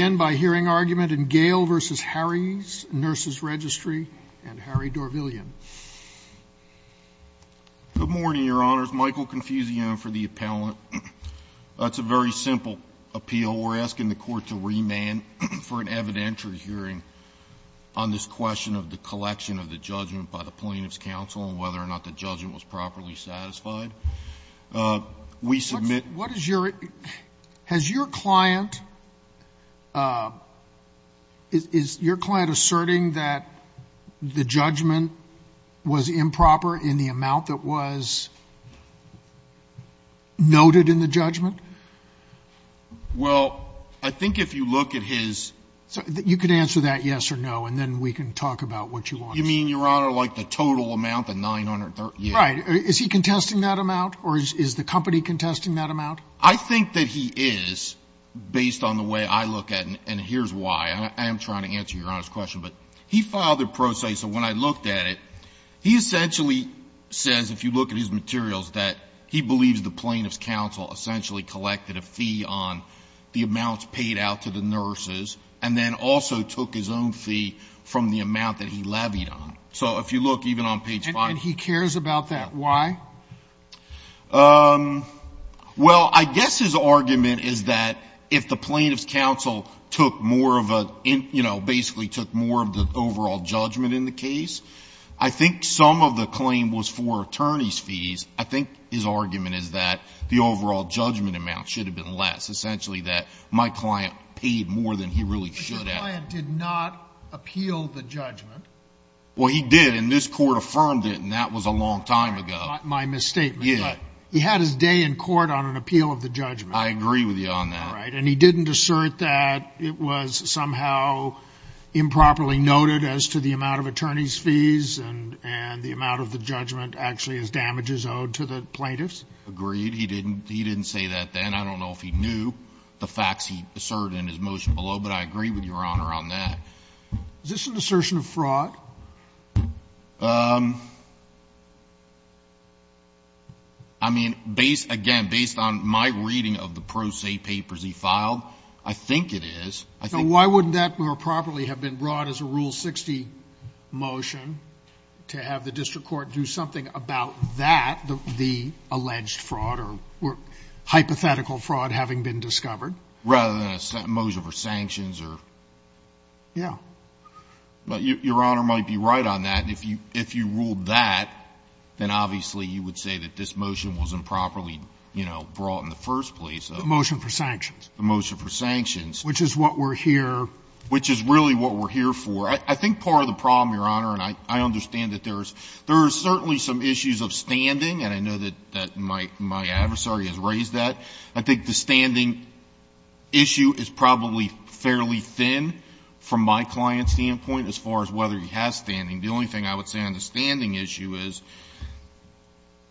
Good morning, your honors. Michael Confusio for the appellant. It's a very simple appeal. We're asking the court to remand for an evidentiary hearing on this question of the collection of the judgment by the Plaintiff's counsel and whether or not the judgment was properly satisfied. We submit... What is your... Has your client... Is your client asserting that the judgment was improper in the amount that was noted in the judgment? Well, I think if you look at his... You can answer that yes or no, and then we can talk about what you want to say. You mean, your honor, like the total amount, the 930? Right. Is he contesting that amount, or is the company contesting that amount? I think that he is, based on the way I look at it, and here's why. I am trying to answer your honor's question, but he filed a pro se. So when I looked at it, he essentially says, if you look at his materials, that he believes the Plaintiff's counsel essentially collected a fee on the amounts paid out to the nurses and then also took his own fee from the amount that he levied on. So if you look even on page 5... And he cares about that. Why? Well, I guess his argument is that if the Plaintiff's counsel took more of a, you know, basically took more of the overall judgment in the case, I think some of the claim was for attorney's fees. I think his argument is that the overall judgment amount should have been less, essentially that my client paid more than he really should have. But your client did not appeal the judgment. Well, he did, and this Court affirmed it, and that was a long time ago. My misstatement. Yeah. He had his day in court on an appeal of the judgment. I agree with you on that. All right. And he didn't assert that it was somehow improperly noted as to the amount of attorney's fees and the amount of the judgment actually as damages owed to the Plaintiffs? Agreed. He didn't say that then. I don't know if he knew the facts he asserted in his motion below, but I agree with your honor on that. Is this an assertion of fraud? I mean, based, again, based on my reading of the pro se papers he filed, I think it is. So why wouldn't that more properly have been brought as a Rule 60 motion to have the district court do something about that, the alleged fraud or hypothetical fraud having been discovered? Rather than a motion for sanctions or? Yeah. Your Honor might be right on that. If you ruled that, then obviously you would say that this motion wasn't properly, you know, brought in the first place. The motion for sanctions. The motion for sanctions. Which is what we're here. Which is really what we're here for. I think part of the problem, Your Honor, and I understand that there is certainly some issues of standing, and I know that my adversary has raised that. I think the standing issue is probably fairly thin from my client's standpoint as far as whether he has standing. The only thing I would say on the standing issue is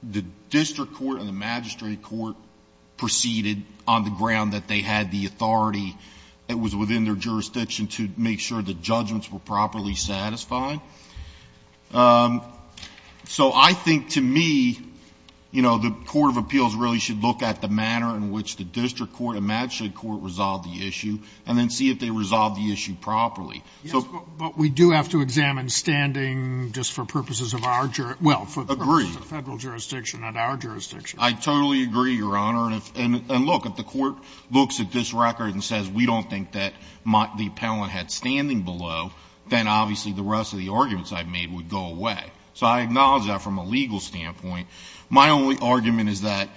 the district court and the magistrate court proceeded on the ground that they had the authority that was within their jurisdiction to make sure the judgments were properly satisfied. So I think to me, you know, the court of appeals really should look at the manner in which the district court and magistrate court resolve the issue and then see if they resolve the issue properly. Yes, but we do have to examine standing just for purposes of our jurisdiction. Well, for the purposes of federal jurisdiction, not our jurisdiction. I totally agree, Your Honor. And look, if the court looks at this record and says we don't think that the appellant had standing below, then obviously the rest of the arguments I've made would go away. So I acknowledge that from a legal standpoint. My only argument is that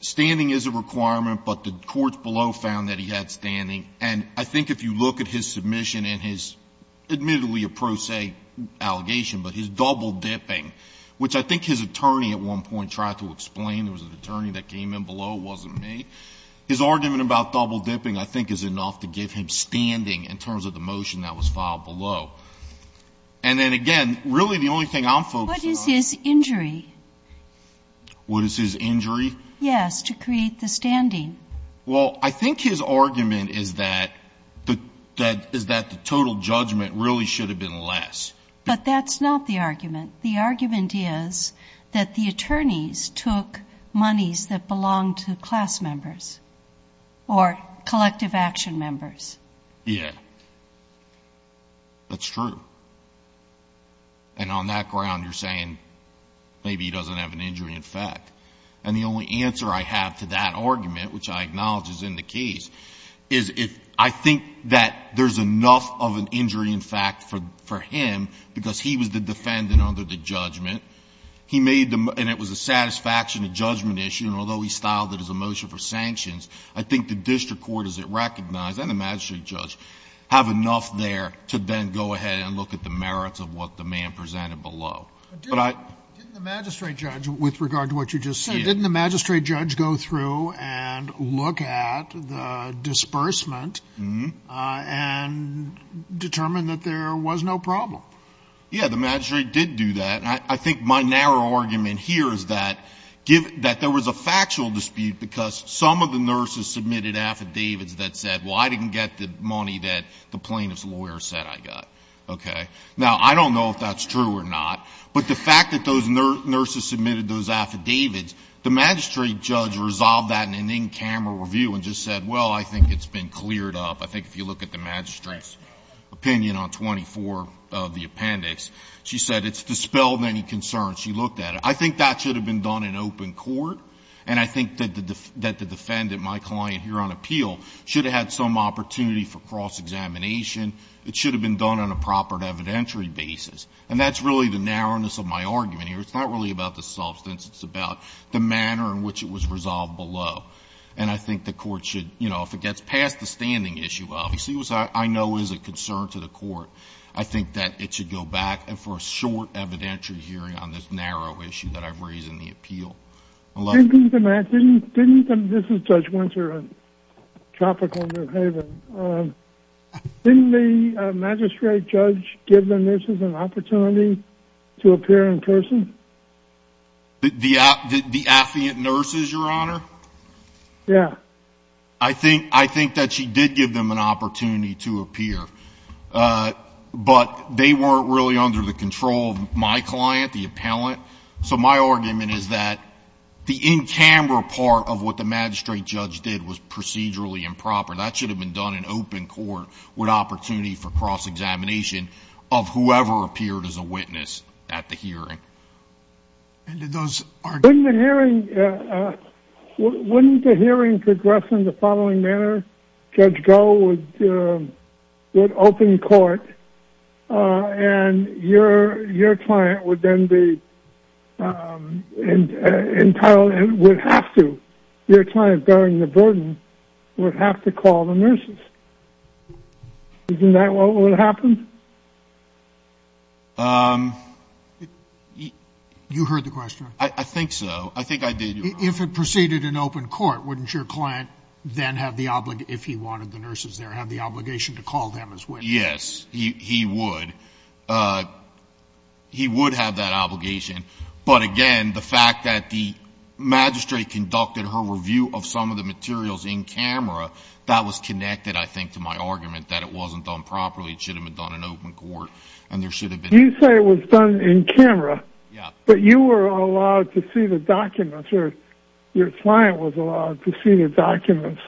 standing is a requirement, but the courts below found that he had standing, and I think if you look at his submission and his, admittedly a pro se allegation, but his double dipping, which I think his attorney at one point tried to explain. There was an attorney that came in below. It wasn't me. His argument about double dipping I think is enough to give him standing in terms of the motion that was filed below. And then again, really the only thing I'm focused on is. What is his injury? What is his injury? Yes, to create the standing. Well, I think his argument is that the total judgment really should have been less. But that's not the argument. The argument is that the attorneys took monies that belonged to class members or collective action members. Yes. That's true. And on that ground you're saying maybe he doesn't have an injury in fact. And the only answer I have to that argument, which I acknowledge is in the case, is if I think that there's enough of an injury in fact for him because he was the defendant under the judgment. He made the, and it was a satisfaction of judgment issue, and although he styled it as a motion for sanctions, I think the district court as it recognized, and the magistrate judge, have enough there to then go ahead and look at the merits of what the man presented below. But I. Didn't the magistrate judge, with regard to what you just said, didn't the magistrate judge go through and look at the disbursement and determine that there was no problem? Yeah. The magistrate did do that. And I think my narrow argument here is that there was a factual dispute because some of the nurses submitted affidavits that said, well, I didn't get the money that the plaintiff's lawyer said I got. Okay. Now, I don't know if that's true or not, but the fact that those nurses submitted those affidavits, the magistrate judge resolved that in an in-camera review and just said, well, I think it's been cleared up. I think if you look at the magistrate's opinion on 24 of the appendix, she said it's dispelled any concern. She looked at it. I think that should have been done in open court. And I think that the defendant, my client here on appeal, should have had some opportunity for cross-examination. It should have been done on a proper evidentiary basis. And that's really the narrowness of my argument here. It's not really about the substance. It's about the manner in which it was resolved below. And I think the court should, you know, if it gets past the standing issue, obviously, which I know is a concern to the court, I think that it should go back for a short evidentiary hearing on this narrow issue that I've raised in the appeal. Didn't the magistrate judge give the nurses an opportunity to appear in person? The affluent nurses, Your Honor? Yeah. I think that she did give them an opportunity to appear. But they weren't really under the control of my client, the appellant. So my argument is that the in-camera part of what the magistrate judge did was procedurally improper. That should have been done in open court with opportunity for cross-examination of whoever appeared as a witness at the hearing. And did those argue? Wouldn't the hearing progress in the following manner? Judge Goh would open court and your client would then be entitled and would have to, your client bearing the burden, would have to call the nurses. Isn't that what would have happened? You heard the question. I think so. I think I did, Your Honor. If it proceeded in open court, wouldn't your client then have the obligation, if he wanted the nurses there, have the obligation to call them as witnesses? Yes, he would. He would have that obligation. But again, the fact that the magistrate conducted her review of some of the materials in-camera, that was connected, I think, to my argument that it wasn't done properly. It should have been done in open court. You say it was done in-camera, but you were allowed to see the documents, or your client was allowed to see the documents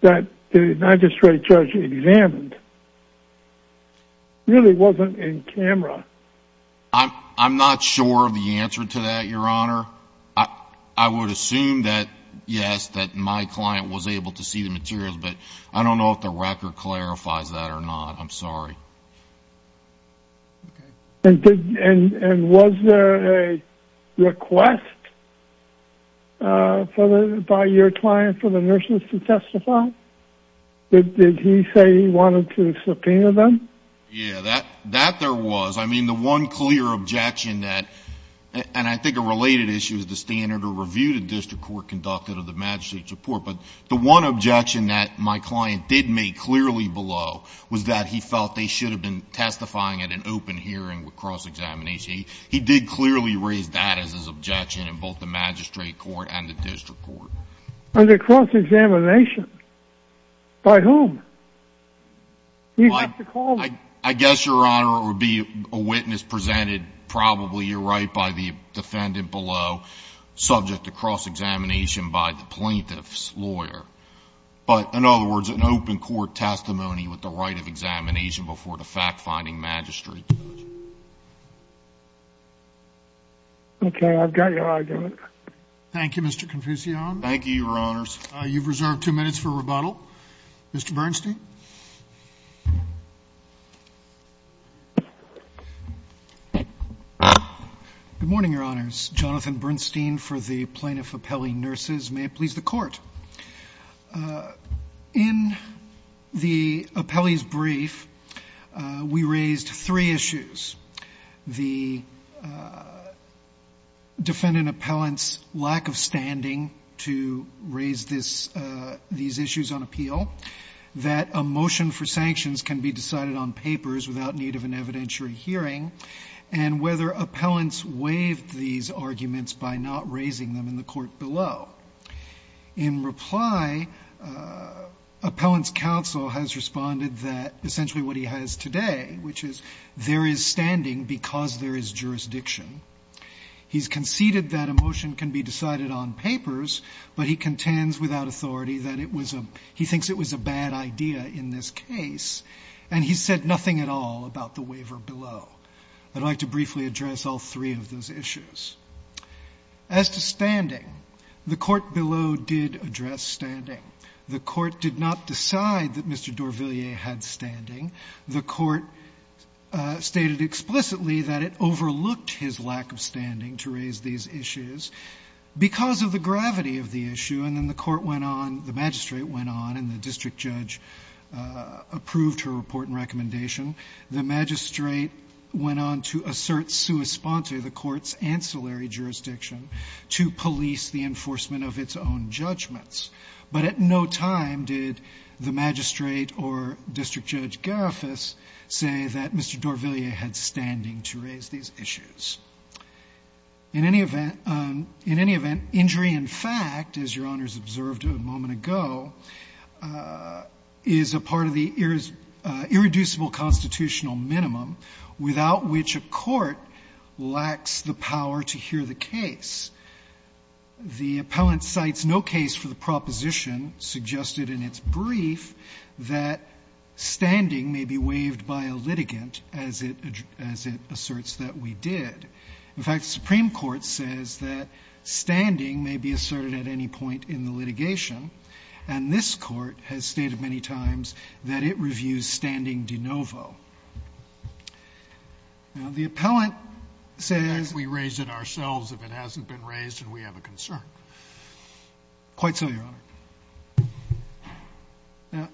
that the magistrate judge examined. It really wasn't in-camera. I'm not sure of the answer to that, Your Honor. I would assume that, yes, that my client was able to see the materials, but I don't know if the record clarifies that or not. I'm sorry. And was there a request by your client for the nurses to testify? Did he say he wanted to subpoena them? Yeah, that there was. I mean, the one clear objection that, and I think a related issue is the standard of review the district court conducted of the magistrate's report, but the one objection that my client did make clearly below was that he felt they should have been testifying at an open hearing with cross-examination. He did clearly raise that as his objection in both the magistrate court and the district court. Under cross-examination? By whom? I guess, Your Honor, it would be a witness presented probably, you're right, by the defendant below subject to cross-examination by the plaintiff's lawyer. But, in other words, an open court testimony with the right of examination before the fact-finding magistrate judge. Okay, I've got your argument. Thank you, Mr. Confucione. You've reserved two minutes for rebuttal. Mr. Bernstein. Good morning, Your Honors. Jonathan Bernstein for the Plaintiff Appellee Nurses. May it please the Court. In the appellee's brief, we raised three issues, the defendant appellant's lack of standing to raise these issues on appeal, that a motion for sanctions can be decided on papers without need of an evidentiary hearing, and whether appellants waived these arguments by not raising them in the court below. In reply, appellant's counsel has responded that essentially what he has today, which is there is standing because there is jurisdiction. He's conceded that a motion can be decided on papers, but he contends without authority that it was a he thinks it was a bad idea in this case, and he said nothing at all about the waiver below. I'd like to briefly address all three of those issues. As to standing, the court below did address standing. The court did not decide that Mr. Dorvillier had standing. The court stated explicitly that it overlooked his lack of standing to raise these issues because of the gravity of the issue, and then the court went on, the magistrate went on, and the district judge approved her report and recommendation. The magistrate went on to assert sua sponte the court's ancillary jurisdiction to police the enforcement of its own judgments. But at no time did the magistrate or district judge Garifas say that Mr. Dorvillier had standing to raise these issues. In any event, injury in fact, as Your Honors observed a moment ago, is a part of the irreducible constitutional minimum without which a court lacks the power to hear the case. The appellant cites no case for the proposition suggested in its brief that standing may be waived by a litigant, as it asserts that we did. In fact, the Supreme Court says that standing may be asserted at any point in the litigation, and this Court has stated many times that it reviews standing de novo. Now, the appellant says we raised it ourselves if it hasn't been raised and we have a concern. Quite so, Your Honor. Now,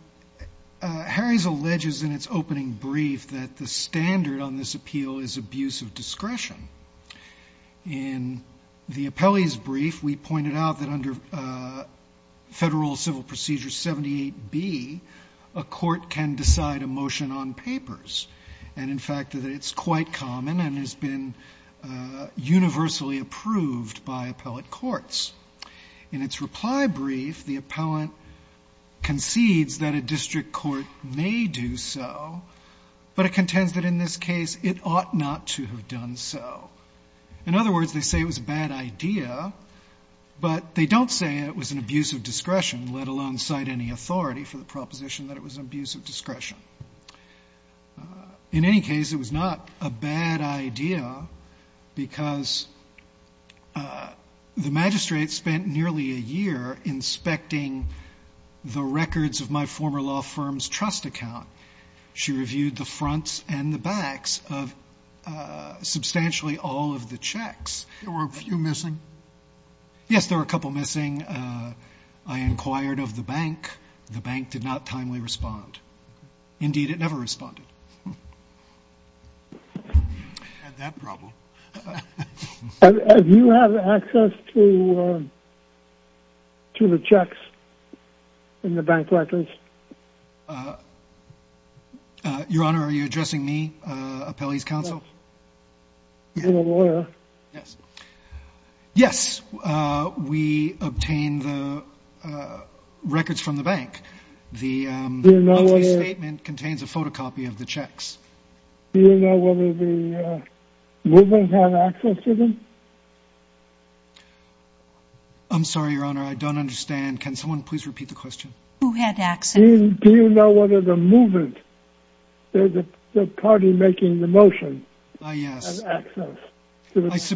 Harry's alleges in its opening brief that the standard on this appeal is abuse of discretion. In the appellee's brief, we pointed out that under Federal Civil Procedure 78b, a court can decide a motion on papers, and in fact, that it's quite common and has been universally approved by appellate courts. In its reply brief, the appellant concedes that a district court may do so, but it contends that in this case it ought not to have done so. In other words, they say it was a bad idea, but they don't say it was an abuse of discretion, let alone cite any authority for the proposition that it was an abuse of discretion. In any case, it was not a bad idea because the magistrate spent nearly a year inspecting the records of my former law firm's trust account. She reviewed the fronts and the backs of substantially all of the checks. There were a few missing? Yes, there were a couple missing. I inquired of the bank. The bank did not timely respond. Indeed, it never responded. Do you have access to the checks in the bank records? Your Honor, are you addressing me, appellee's counsel? You're a lawyer. Yes. Yes, we obtained the records from the bank. The statement contains a photocopy of the checks. Do you know whether the movement had access to them? I'm sorry, Your Honor. I don't understand. Can someone please repeat the question? Who had access? Do you know whether the movement, the party making the motion, had access to the checks?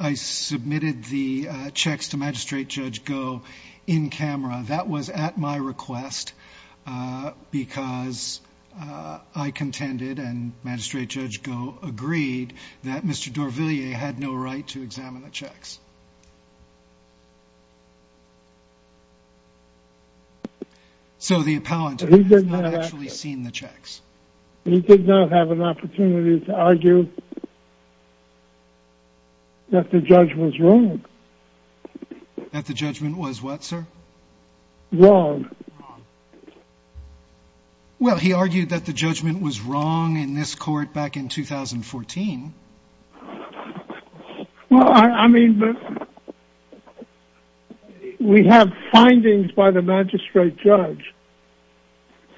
I submitted the checks to Magistrate Judge Goh in camera. That was at my request because I contended, and Magistrate Judge Goh agreed, that Mr. Dorvillier had no right to examine the checks. So the appellant has not actually seen the checks. He did not have an opportunity to argue that the judge was wrong. That the judgment was what, sir? Wrong. Well, he argued that the judgment was wrong in this court back in 2014. Well, I mean, we have findings by the magistrate judge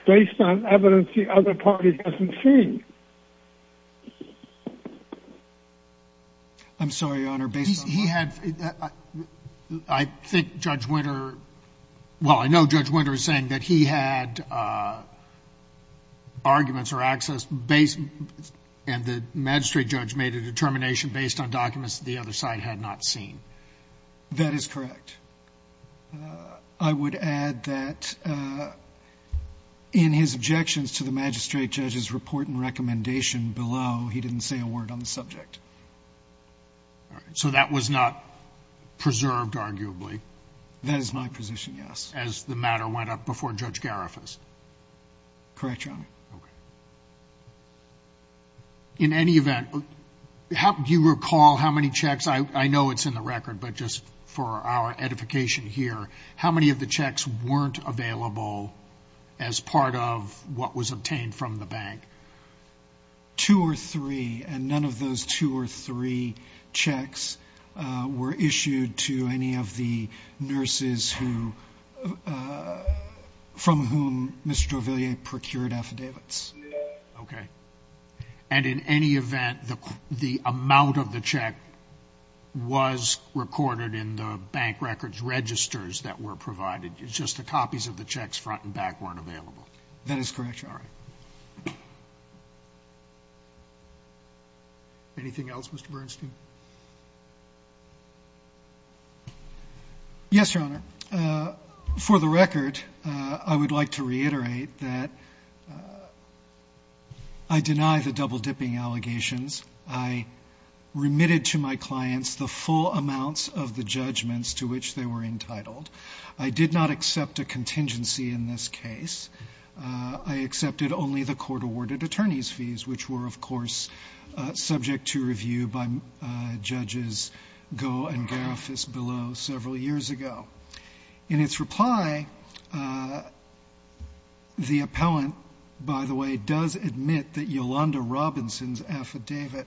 based on evidence the other party doesn't see. I'm sorry, Your Honor. Based on what? He had, I think Judge Winter, well, I know Judge Winter is saying that he had arguments or access and the magistrate judge made a determination based on documents that the other side had not seen. That is correct. I would add that in his objections to the magistrate judge's report and recommendation below, he didn't say a word on the subject. All right. So that was not preserved, arguably. That is my position, yes. As the matter went up before Judge Garifas. Correct, Your Honor. Okay. In any event, do you recall how many checks, I know it's in the record, but just for our edification here, how many of the checks weren't available as part of what was obtained from the bank? Two or three, and none of those two or three checks were issued to any of the nurses who, from whom Mr. Jovillier procured affidavits. Okay. And in any event, the amount of the check was recorded in the bank records registers that were provided. It's just the copies of the checks front and back weren't available. That is correct, Your Honor. Anything else, Mr. Bernstein? Yes, Your Honor. For the record, I would like to reiterate that I deny the double-dipping allegations. I remitted to my clients the full amounts of the judgments to which they were entitled. I did not accept a contingency in this case. I accepted only the court-awarded attorney's fees, which were, of course, subject to review by Judges Goh and Garofis below several years ago. In its reply, the appellant, by the way, does admit that Yolanda Robinson's affidavit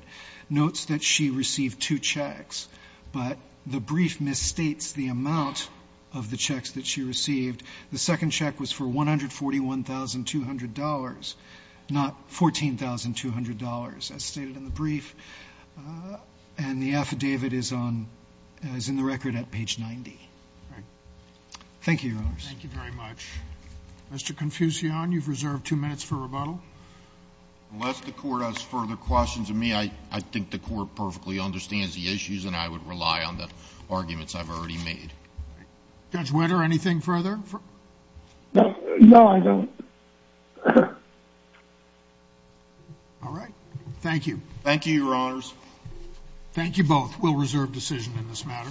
notes that she received two checks, but the brief misstates the amount of the checks that she received. The second check was for $141,200, not $14,200, as stated in the brief. And the affidavit is on the record at page 90. Thank you, Your Honors. Thank you very much. Mr. Confucian, you've reserved two minutes for rebuttal. Unless the Court has further questions of me, I think the Court perfectly understands the issues and I would rely on the arguments I've already made. Judge Whitter, anything further? No, I don't. All right. Thank you. Thank you, Your Honors. Thank you both. We'll reserve decision in this matter.